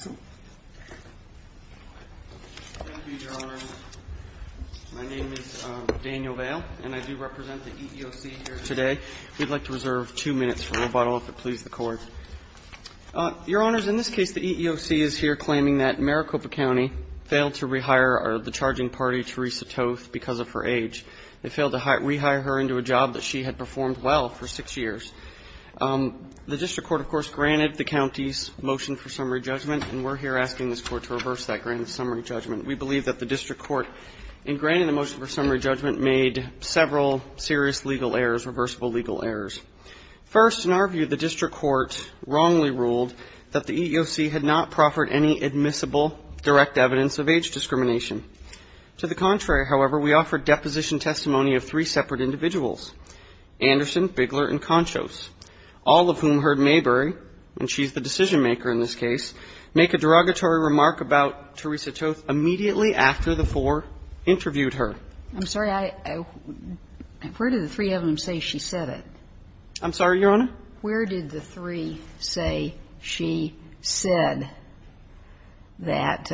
My name is Daniel Vail and I do represent the EEOC here today. We'd like to reserve two minutes for a little bottle if it pleases the Court. Your Honors, in this case, the EEOC is here claiming that Maricopa County failed to rehire the charging party, Teresa Toth, because of her age. They failed to rehire her into a job that she had performed well for six years. The District Court, of course, granted the motion and we're here asking this Court to reverse that grand summary judgment. We believe that the District Court, in granting the motion for summary judgment, made several serious legal errors, reversible legal errors. First, in our view, the District Court wrongly ruled that the EEOC had not proffered any admissible direct evidence of age discrimination. To the contrary, however, we offered deposition testimony of three separate individuals, Anderson, Bigler, and Conchos, all of whom heard Mayberry, and she's the decision-maker in this case, make a derogatory remark about Teresa Toth immediately after the four interviewed her. I'm sorry, I — where did the three of them say she said it? I'm sorry, Your Honor? Where did the three say she said that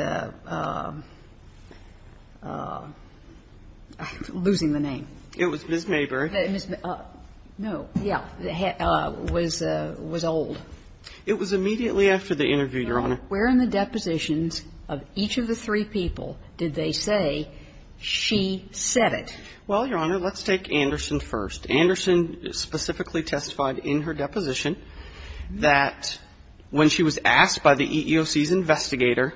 — losing the name. It was Ms. Mayberry. Ms. May — no, yeah, was — was old. It was immediately after the interview, Your Honor. Where in the depositions of each of the three people did they say she said it? Well, Your Honor, let's take Anderson first. Anderson specifically testified in her deposition that when she was asked by the EEOC's investigator,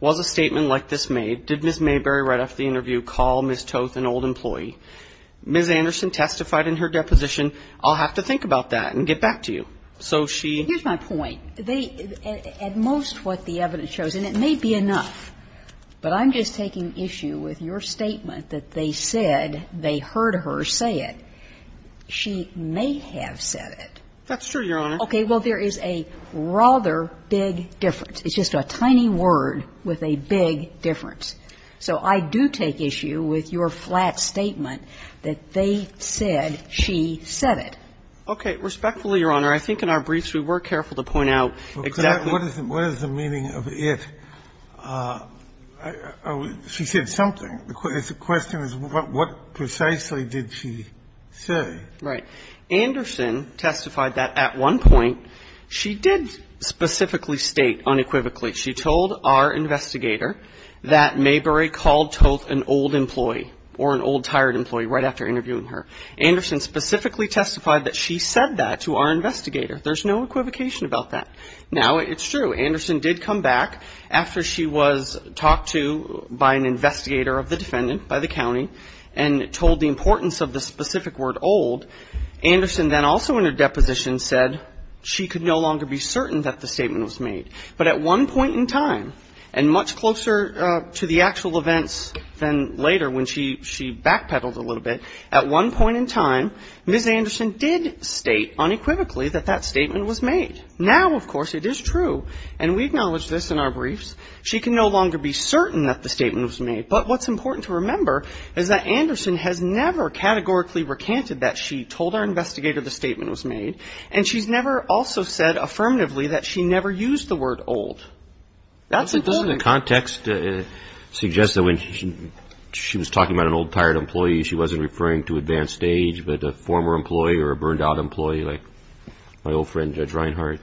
was a statement like this made, did Ms. Mayberry, right after the interview, call Ms. Toth an old employee? Ms. Anderson testified in her deposition, I'll have to think about that and get back to you. So she — Here's my point. They — at most what the evidence shows, and it may be enough, but I'm just taking issue with your statement that they said, they heard her say it. She may have said it. That's true, Your Honor. Okay. Well, there is a rather big difference. It's just a tiny word with a big difference. So I do take issue with your flat statement that they said she said it. Okay. Respectfully, Your Honor, I think in our briefs we were careful to point out exactly what is the — What is the meaning of it? She said something. The question is what precisely did she say? Right. Anderson testified that at one point she did specifically state unequivocally she told our investigator that Mabry called Toth an old employee or an old, tired employee right after interviewing her. Anderson specifically testified that she said that to our investigator. There's no equivocation about that. Now, it's true. Anderson did come back after she was talked to by an investigator of the defendant, by the county, and told the importance of the specific word old. Anderson then also in her deposition said she could no longer be certain that the statement was made. But at one point in time, and much closer to the actual events than later when she backpedaled a little bit, at one point in time, Ms. Anderson did state unequivocally that that statement was made. Now, of course, it is true, and we acknowledge this in our briefs, she can no longer be certain that the statement was made. But what's important to remember is that Anderson has never categorically recanted that she told our investigator the statement was made, and she's never also said affirmatively that she never used the word old. That's important. But doesn't the context suggest that when she was talking about an old, tired employee, she wasn't referring to advanced age, but a former employee or a burned out employee, like my old friend Judge Reinhardt?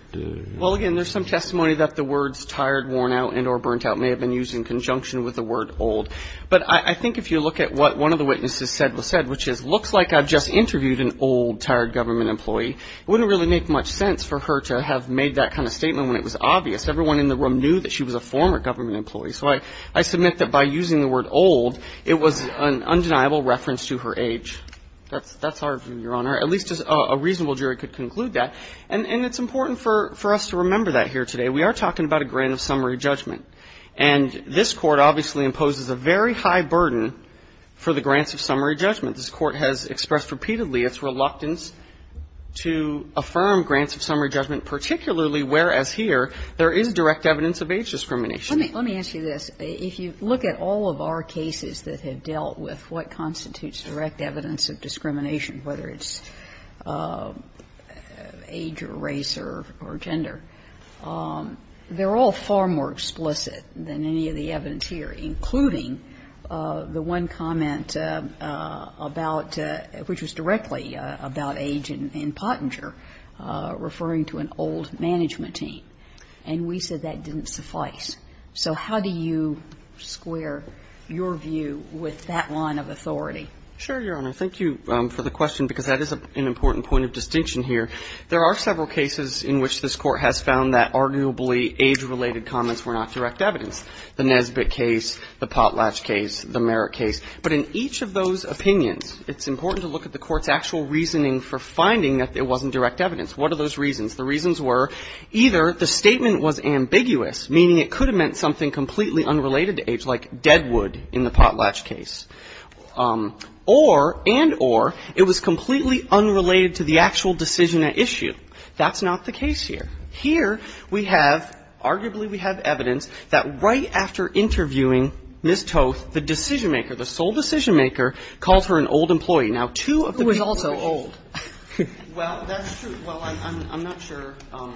Well, again, there's some testimony that the words tired, worn out, and or burnt out may have been used in conjunction with the word old. But I think if you look at what one of the witnesses said, which is, looks like I've just interviewed an old, tired government employee, it wouldn't really make much sense for her to have made that kind of statement when it was obvious. Everyone in the room knew that she was a former government employee. So I submit that by using the word old, it was an undeniable reference to her age. That's our view, Your Honor. At least a reasonable jury could conclude that. And it's important for us to remember that here today. We are talking about a grant of summary judgment. And this Court obviously imposes a very high burden for the grants of summary judgment. This Court has expressed repeatedly its reluctance to affirm grants of summary judgment, particularly whereas here there is direct evidence of age discrimination. Let me ask you this. If you look at all of our cases that have dealt with what constitutes direct evidence of discrimination, whether it's age or race or gender, they're all far more explicit than any of the evidence here, including the one comment about – which was directly about age in Pottinger, referring to an old management team. And we said that didn't suffice. So how do you square your view with that line of authority? Sure, Your Honor. Thank you for the question, because that is an important point of distinction here. There are several cases in which this Court has found that arguably age-related comments were not direct evidence, the Nesbitt case, the Potlatch case, the Merritt case. But in each of those opinions, it's important to look at the Court's actual reasoning for finding that it wasn't direct evidence. What are those reasons? The reasons were either the statement was ambiguous, meaning it could have meant something completely unrelated to age, like Deadwood in the Potlatch case, or, and or, it was completely unrelated to the actual decision at issue. That's not the case here. Here, we have, arguably we have evidence that right after interviewing Ms. Toth, the decision-maker, the sole decision-maker, called her an old employee. Now, two of the people who were old – Who was also old? Well, that's true. Well, I'm not sure what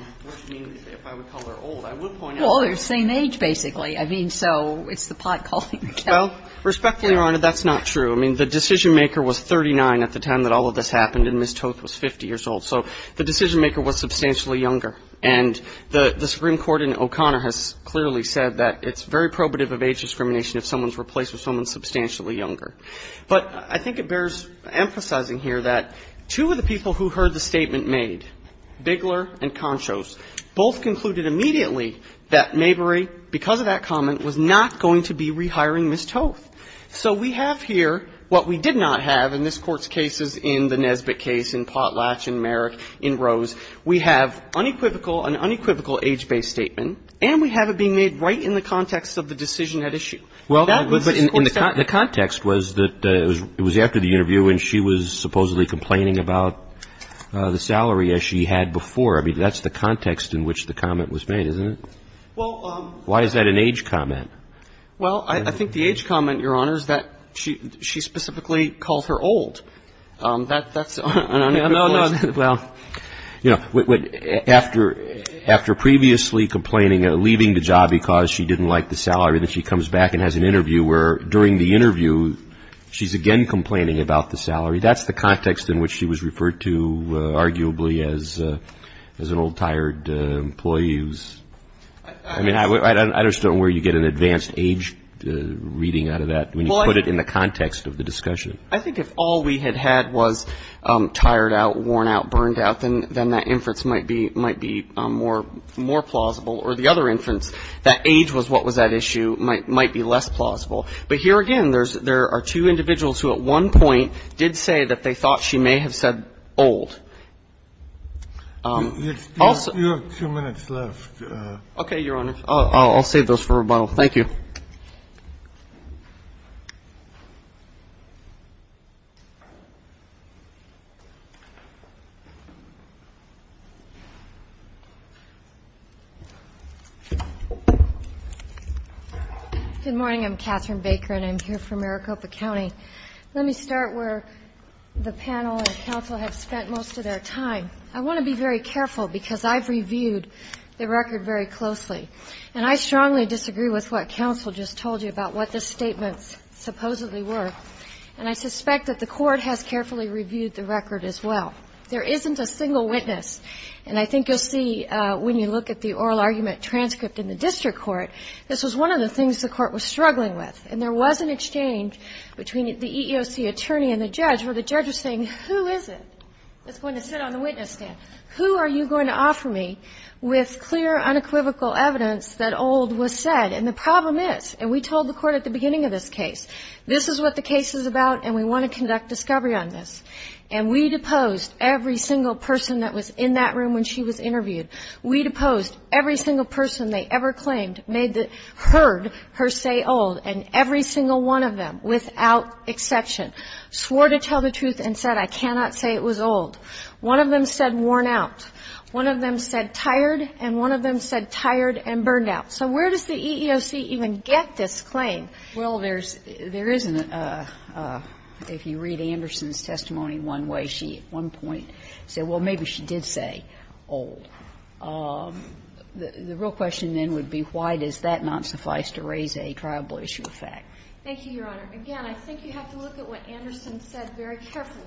you mean if I would call her old. I will point out – Well, they're the same age, basically. I mean, so it's the pot calling the kettle black. Well, respectfully, Your Honor, that's not true. I mean, the decision-maker was 39 at the time that all of this happened, and Ms. Toth was 50 years old. So the decision-maker was substantially younger. And the Supreme Court in O'Connor has clearly said that it's very probative of age discrimination if someone's replaced with someone substantially younger. But I think it bears emphasizing here that two of the people who heard the statement made, Bigler and Conchos, both concluded immediately that Mabry, because of that comment, was not going to be rehiring Ms. Toth. So we have here what we did not have in this Court's cases in the Nesbitt case, in Potlatch, in Merrick, in Rose. We have unequivocal, an unequivocal age-based statement, and we have it being made right in the context of the decision at issue. Well, but the context was that it was after the interview, and she was supposedly complaining about the salary, as she had before. I mean, that's the context in which the comment was made, isn't it? Well, why is that an age comment? Well, I think the age comment, Your Honor, is that she specifically called her old. That's an unequivocal age statement. No, no, no. Well, you know, after previously complaining, leaving the job because she didn't like the salary, then she comes back and has an interview where, during the interview, she's again complaining about the salary. That's the context in which she was referred to, arguably, as an old, tired employee who's, I mean, I just don't know where you get an advanced age reading out of that when you put it in the context of the discussion. I think if all we had had was tired out, worn out, burned out, then that inference might be more plausible, or the other inference, that age was what was at issue, might be less plausible. But here again, there are two individuals who at one point did say that they thought she may have said old. Also you have two minutes left. Okay, Your Honor. I'll save those for rebuttal. Thank you. Good morning. I'm Catherine Baker, and I'm here for Maricopa County. Let me start where the panel and counsel have spent most of their time. I want to be very careful because I've reviewed the record very closely, and I think the counsel just told you about what the statements supposedly were. And I suspect that the Court has carefully reviewed the record as well. There isn't a single witness. And I think you'll see when you look at the oral argument transcript in the district court, this was one of the things the Court was struggling with, and there was an exchange between the EEOC attorney and the judge where the judge was saying, who is it that's going to sit on the witness stand? Who are you going to offer me with clear, unequivocal evidence that old was said? And the problem is, and we told the Court at the beginning of this case, this is what the case is about, and we want to conduct discovery on this. And we deposed every single person that was in that room when she was interviewed. We deposed every single person they ever claimed made the --"heard her say old," and every single one of them, without exception, swore to tell the truth and said, I cannot say it was old. One of them said worn out. One of them said tired, and one of them said tired and burned out. So where does the EEOC even get this claim? Well, there's an --" if you read Anderson's testimony one way, she at one point said, well, maybe she did say old. The real question then would be why does that not suffice to raise a triable issue of fact? Thank you, Your Honor. Again, I think you have to look at what Anderson said very carefully,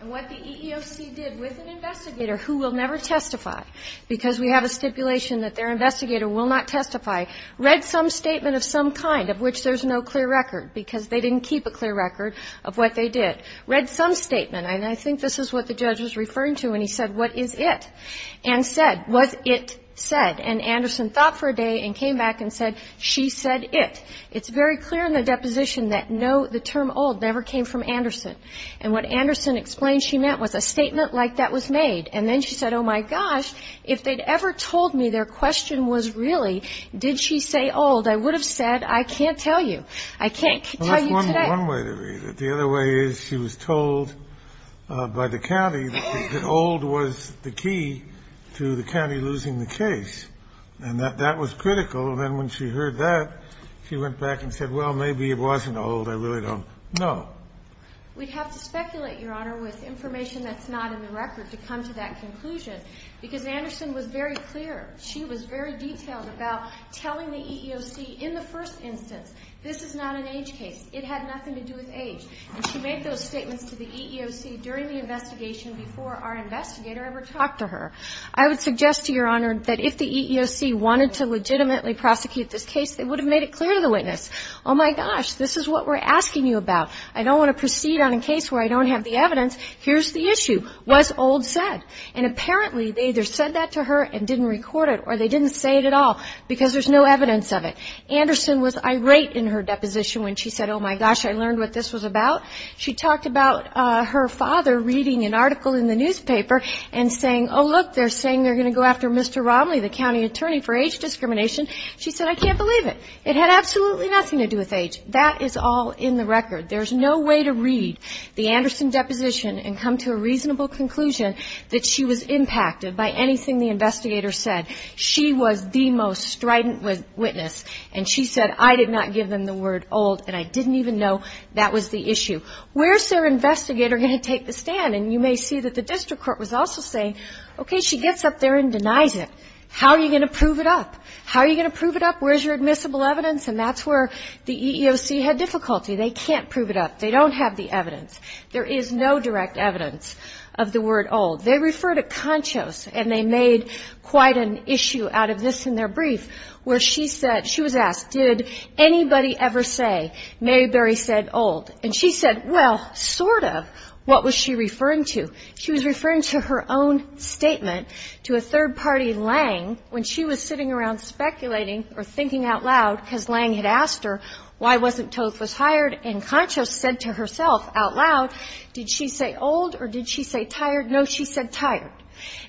and what the EEOC did with an investigator who will never testify, because we have a stipulation that their investigator will not testify, read some statement of some kind of which there's no clear record, because they didn't keep a clear record of what they did. Read some statement, and I think this is what the judge was referring to when he said, what is it? And said, was it said? And Anderson thought for a day and came back and said, she said it. It's very clear in the deposition that no, the term old never came from Anderson. And what Anderson explained she meant was a statement like that was made. And then she said, oh, my gosh, if they'd ever told me their question was really did she say old, I would have said, I can't tell you. I can't tell you today. The other way is she was told by the county that old was the key to the county losing the case, and that that was critical. And then when she heard that, she went back and said, well, maybe it wasn't old. I really don't know. We'd have to speculate, Your Honor, with information that's not in the record to come to that conclusion. Because Anderson was very clear. She was very detailed about telling the EEOC in the first instance, this is not an age case. It had nothing to do with age. And she made those statements to the EEOC during the investigation before our investigator ever talked to her. I would suggest to Your Honor that if the EEOC wanted to legitimately prosecute this case, they would have made it clear to the witness, oh, my gosh, this is what we're asking you about. I don't want to proceed on a case where I don't have the evidence. Here's the issue. What's old said? And apparently, they either said that to her and didn't record it, or they didn't say it at all because there's no evidence of it. Anderson was irate in her deposition when she said, oh, my gosh, I learned what this was about. She talked about her father reading an article in the newspaper and saying, oh, look, they're saying they're going to go after Mr. Romley, the county attorney for age discrimination. She said, I can't believe it. It had absolutely nothing to do with age. That is all in the record. There's no way to read the Anderson deposition and come to a reasonable conclusion that she was impacted by anything the investigator said. She was the most strident witness. And she said, I did not give them the word old, and I didn't even know that was the issue. Where's their investigator going to take the stand? And you may see that the district court was also saying, OK, she gets up there and denies it. How are you going to prove it up? How are you going to prove it up? Where's your admissible evidence? And that's where the EEOC had difficulty. They can't prove it up. They don't have the evidence. There is no direct evidence of the word old. They refer to Conchos, and they made quite an issue out of this in their brief, where she said, she was asked, did anybody ever say Mary Berry said old? And she said, well, sort of. What was she referring to? She was referring to her own statement to a third party Lange when she was sitting around speculating or thinking out loud because Lange had asked her, why wasn't Toth was hired? And Conchos said to herself out loud, did she say old or did she say tired? No, she said tired.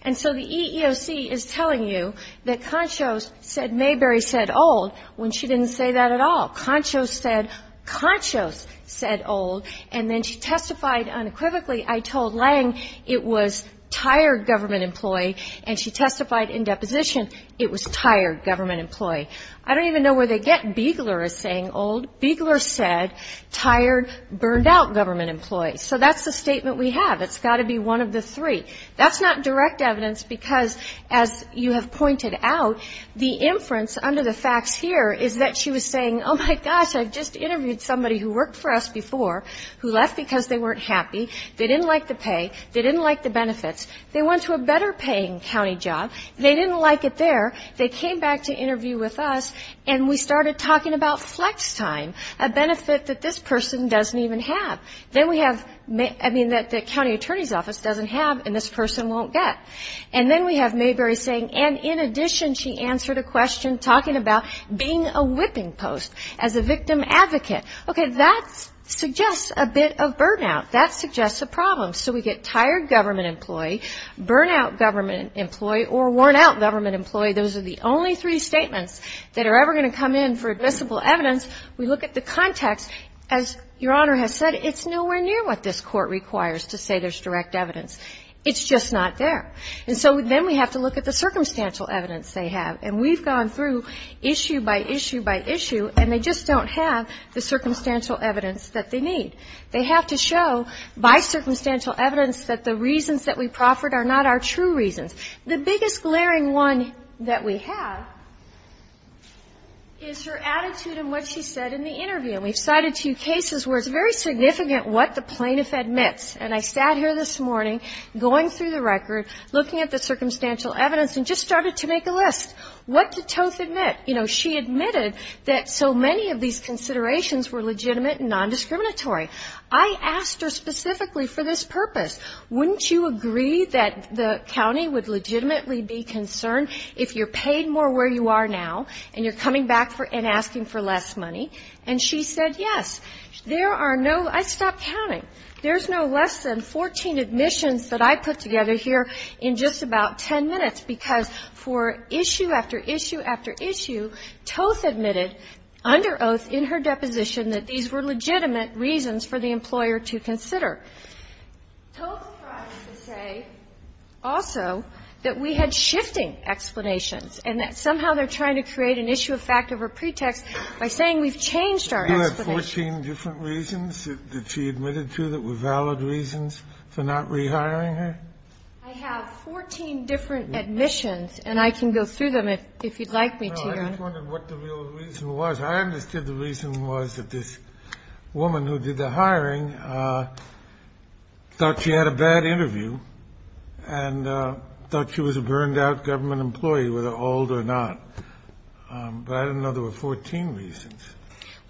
And so the EEOC is telling you that Conchos said Mary Berry said old when she didn't say that at all. Conchos said, Conchos said old. And then she testified unequivocally. I told Lange it was tired government employee. And she testified in deposition. It was tired government employee. I don't even know where they get Beigler as saying old. Beigler said tired, burned out government employee. So that's the statement we have. It's got to be one of the three. That's not direct evidence because as you have pointed out, the inference under the facts here is that she was saying, oh my gosh, I've just interviewed somebody who worked for us before who left because they weren't happy. They didn't like the pay. They didn't like the benefits. They went to a better paying county job. They didn't like it there. They came back to interview with us. And we started talking about flex time, a benefit that this person doesn't even have. Then we have, I mean, that the county attorney's office doesn't have and this person won't get. And then we have Mayberry saying, and in addition, she answered a question talking about being a whipping post as a victim advocate. Okay, that suggests a bit of burnout. That suggests a problem. So we get tired government employee, burnout government employee, or worn out government employee. Those are the only three statements that are ever going to come in for admissible evidence. We look at the context. As Your Honor has said, it's nowhere near what this court requires to say there's direct evidence. It's just not there. And so then we have to look at the circumstantial evidence they have. And we've gone through issue by issue by issue, and they just don't have the circumstantial evidence that they need. They have to show by circumstantial evidence that the reasons that we proffered are not our true reasons. The biggest glaring one that we have is her attitude and what she said in the interview. And we've cited two cases where it's very significant what the plaintiff admits. And I sat here this morning going through the record, looking at the circumstantial evidence, and just started to make a list. What did Toth admit? You know, she admitted that so many of these considerations were legitimate and non-discriminatory. I asked her specifically for this purpose. Wouldn't you agree that the county would legitimately be concerned if you're paid more where you are now and you're coming back and asking for less money? And she said, yes. There are no – I stopped counting. There's no less than 14 admissions that I put together here in just about 10 minutes, because for issue after issue after issue, Toth admitted under oath in her deposition that these were legitimate reasons for the employer to consider. Toth tried to say also that we had shifting explanations and that somehow they're trying to create an issue of fact over pretext by saying we've changed our explanations. Kennedy, you have 14 different reasons that she admitted to that were valid reasons for not rehiring her? I have 14 different admissions, and I can go through them if you'd like me to, Your Honor. No, I just wondered what the real reason was. I understood the reason was that this woman who did the hiring thought she had a bad interview and thought she was a burned-out government employee, whether old or not. But I didn't know there were 14 reasons.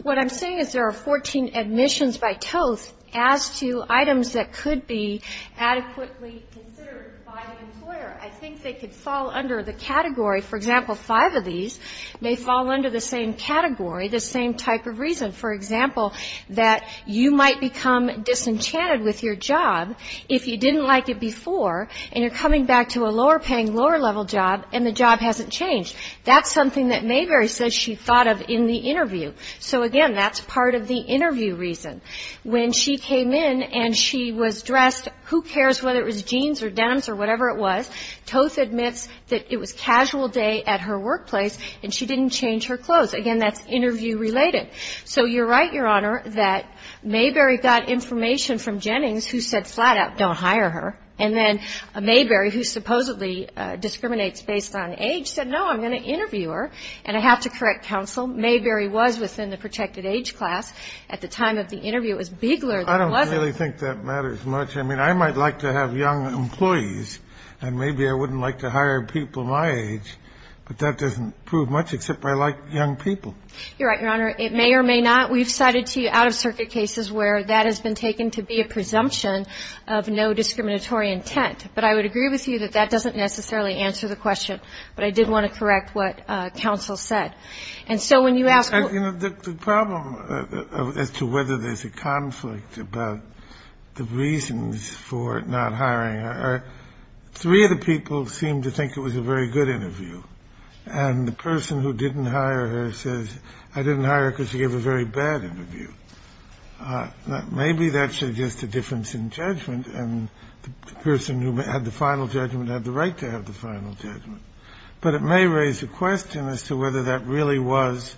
What I'm saying is there are 14 admissions by Toth as to items that could be adequately considered by an employer. I think they could fall under the category. For example, five of these may fall under the same category, the same type of reason. For example, that you might become disenchanted with your job if you didn't like it before and you're coming back to a lower-paying, lower-level job and the job hasn't changed. That's something that Mayberry says she thought of in the interview. So, again, that's part of the interview reason. When she came in and she was dressed, who cares whether it was jeans or denims or whatever it was, Toth admits that it was a casual day at her workplace and she didn't change her clothes. Again, that's interview-related. So you're right, Your Honor, that Mayberry got information from Jennings who said flat-out don't hire her. And then Mayberry, who supposedly discriminates based on age, said, no, I'm going to interview her. And I have to correct counsel, Mayberry was within the protected age class at the time of the interview. It was Bigler that was it. I don't really think that matters much. I mean, I might like to have young employees and maybe I wouldn't like to hire people my age, but that doesn't prove much, except I like young people. You're right, Your Honor. It may or may not. We've cited to you out-of-circuit cases where that has been taken to be a presumption of no discriminatory intent. But I would agree with you that that doesn't necessarily answer the question, but I did want to correct what counsel said. And so when you ask who to hire, you know, the problem as to whether there's a conflict about the reasons for not hiring her, three of the people seem to think it was a very good interview. And the person who didn't hire her says, I didn't hire her because she gave a very bad interview. Maybe that suggests a difference in judgment, and the person who had the final judgment had the right to have the final judgment. But it may raise a question as to whether that really was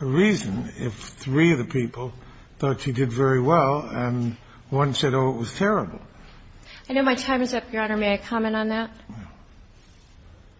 a reason if three of the people thought she did very well and one said, oh, it was terrible. I know my time is up, Your Honor. May I comment on that?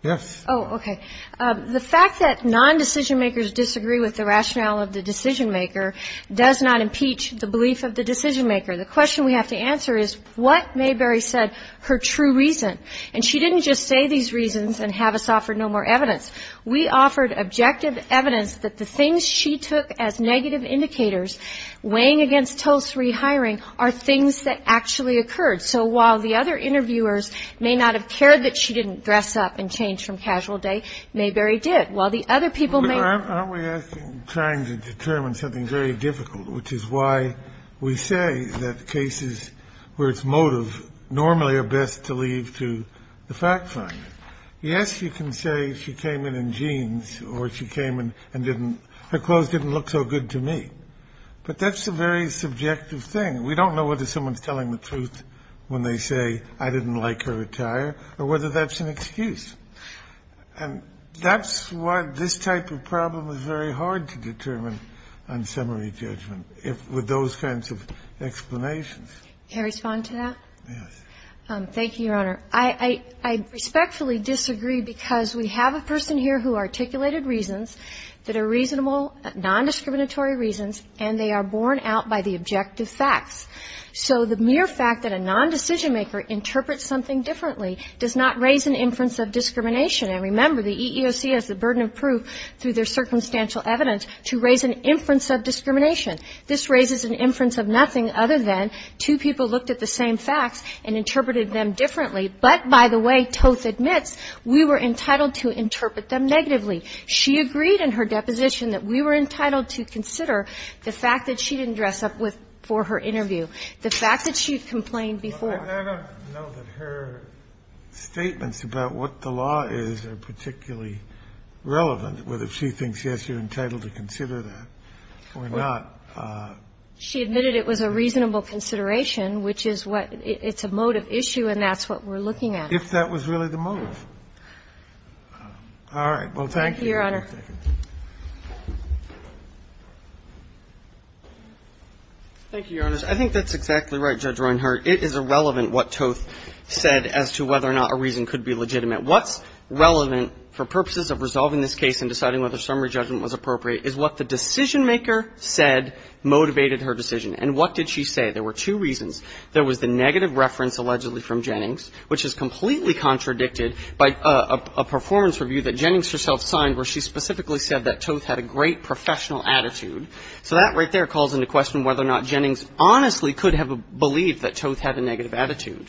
Yes. Oh, okay. The fact that non-decision-makers disagree with the rationale of the decision-maker does not impeach the belief of the decision-maker. The question we have to answer is what Mayberry said, her true reason. And she didn't just say these reasons and have us offer no more evidence. We offered objective evidence that the things she took as negative indicators weighing against Tulse rehiring are things that actually occurred. So while the other interviewers may not have cared that she didn't dress up and change from casual day, Mayberry did. While the other people may... But aren't we asking, trying to determine something very difficult, which is why we say that cases where it's motive normally are best to leave to the fact finder. Yes, you can say she came in in jeans or she came in and didn't, her clothes didn't look so good to me. But that's a very subjective thing. We don't know whether someone's telling the truth when they say I didn't like her attire or whether that's an excuse. And that's why this type of problem is very hard to determine on summary judgment with those kinds of explanations. Can I respond to that? Yes. Thank you, Your Honor. I respectfully disagree because we have a person here who articulated reasons that are reasonable, non-discriminatory reasons, and they are borne out by the objective facts. So the mere fact that a non-decision maker interprets something differently does not raise an inference of discrimination. And remember, the EEOC has the burden of proof through their circumstantial evidence to raise an inference of discrimination. This raises an inference of nothing other than two people looked at the same facts and interpreted them differently. But by the way, Tulse admits, we were entitled to interpret them negatively. She agreed in her deposition that we were entitled to consider the fact that she didn't dress up with for her interview, the fact that she had complained before. I don't know that her statements about what the law is are particularly relevant, whether she thinks, yes, you're entitled to consider that or not. She admitted it was a reasonable consideration, which is what – it's a motive issue, and that's what we're looking at. If that was really the motive. All right. Well, thank you. Thank you, Your Honor. Thank you, Your Honors. I think that's exactly right, Judge Reinhart. It is irrelevant what Toth said as to whether or not a reason could be legitimate. What's relevant for purposes of resolving this case and deciding whether summary judgment was appropriate is what the decisionmaker said motivated her decision. And what did she say? There were two reasons. There was the negative reference allegedly from Jennings, which is completely contradicted by a performance review that Jennings herself signed where she specifically said that Toth had a great professional attitude. So that right there calls into question whether or not Jennings honestly could have believed that Toth had a negative attitude.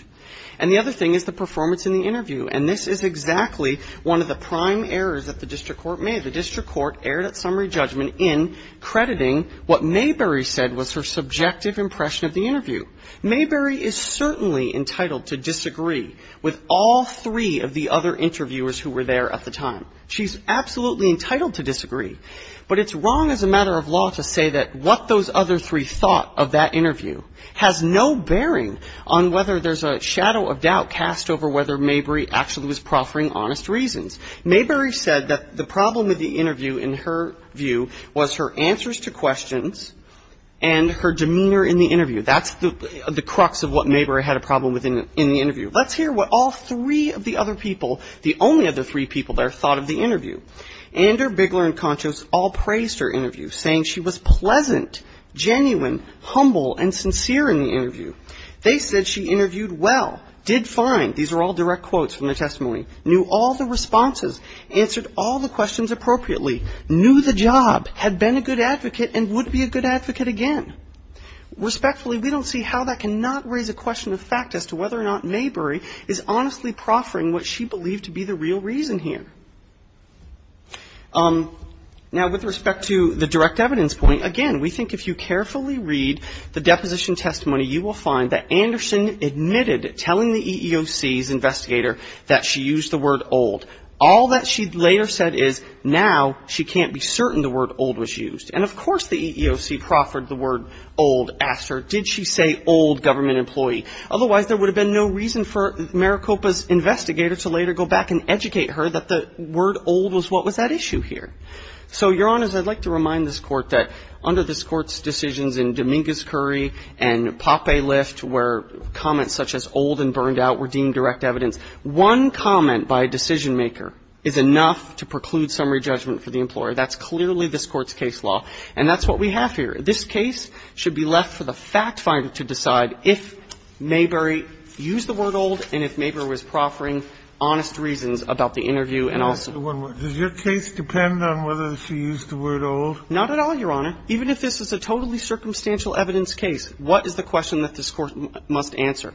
And the other thing is the performance in the interview. And this is exactly one of the prime errors that the district court made. The district court erred at summary judgment in crediting what Mayberry said was her subjective impression of the interview. Mayberry is certainly entitled to disagree with all three of the other interviewers who were there at the time. She's absolutely entitled to disagree. But it's wrong as a matter of law to say that what those other three thought of that interview has no bearing on whether there's a shadow of doubt cast over whether Mayberry actually was proffering honest reasons. Mayberry said that the problem with the interview, in her view, was her answers to questions and her demeanor in the interview. That's the crux of what Mayberry had a problem with in the interview. Let's hear what all three of the other people, the only other three people there, thought of the interview. Ander, Bigler, and Contos all praised her interview, saying she was pleasant, genuine, humble, and sincere in the interview. They said she interviewed well, did fine. These are all direct quotes from the testimony. Knew all the responses, answered all the questions appropriately, knew the job, had been a good advocate, and would be a good advocate again. Respectfully, we don't see how that can not raise a question of fact as to whether or not Mayberry is honestly proffering what she believed to be the real reason here. Now, with respect to the direct evidence point, again, we think if you carefully read the deposition testimony, you will find that Anderson admitted telling the EEOC's investigator that she used the word old. All that she later said is, now she can't be certain the word old was used. And of course the EEOC proffered the word old, asked her, did she say old government employee? Otherwise, there would have been no reason for Maricopa's investigator to later go back and educate her that the word old was what was at issue here. So, Your Honors, I'd like to remind this Court that under this Court's decisions in Dominguez-Curry and Poppe-Lift, where comments such as old and burned out were deemed direct evidence, one comment by a decision maker is enough to preclude summary judgment for the employer. That's clearly this Court's case law. And that's what we have here. This case should be left for the fact finder to decide if Mayberry used the word old and if Mayberry was proffering honest reasons about the interview and also one word. Does your case depend on whether she used the word old? Not at all, Your Honor. Even if this is a totally circumstantial evidence case, what is the question that this Court must answer?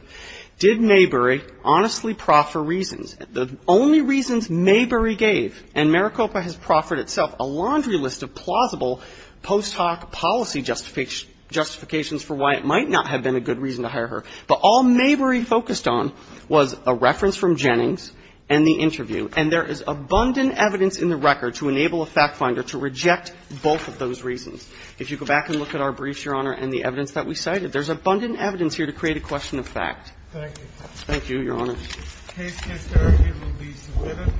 Did Mayberry honestly proffer reasons? The only reasons Mayberry gave, and Maricopa has proffered itself a laundry list of plausible post hoc policy justifications for why it might not have been a good reason to hire her, but all Mayberry focused on was a reference from Jennings and the interview. And there is abundant evidence in the record to enable a fact finder to reject both of those reasons. If you go back and look at our briefs, Your Honor, and the evidence that we cited, there's abundant evidence here to create a question of fact. Thank you, Your Honor. Case can start. It will be submitted.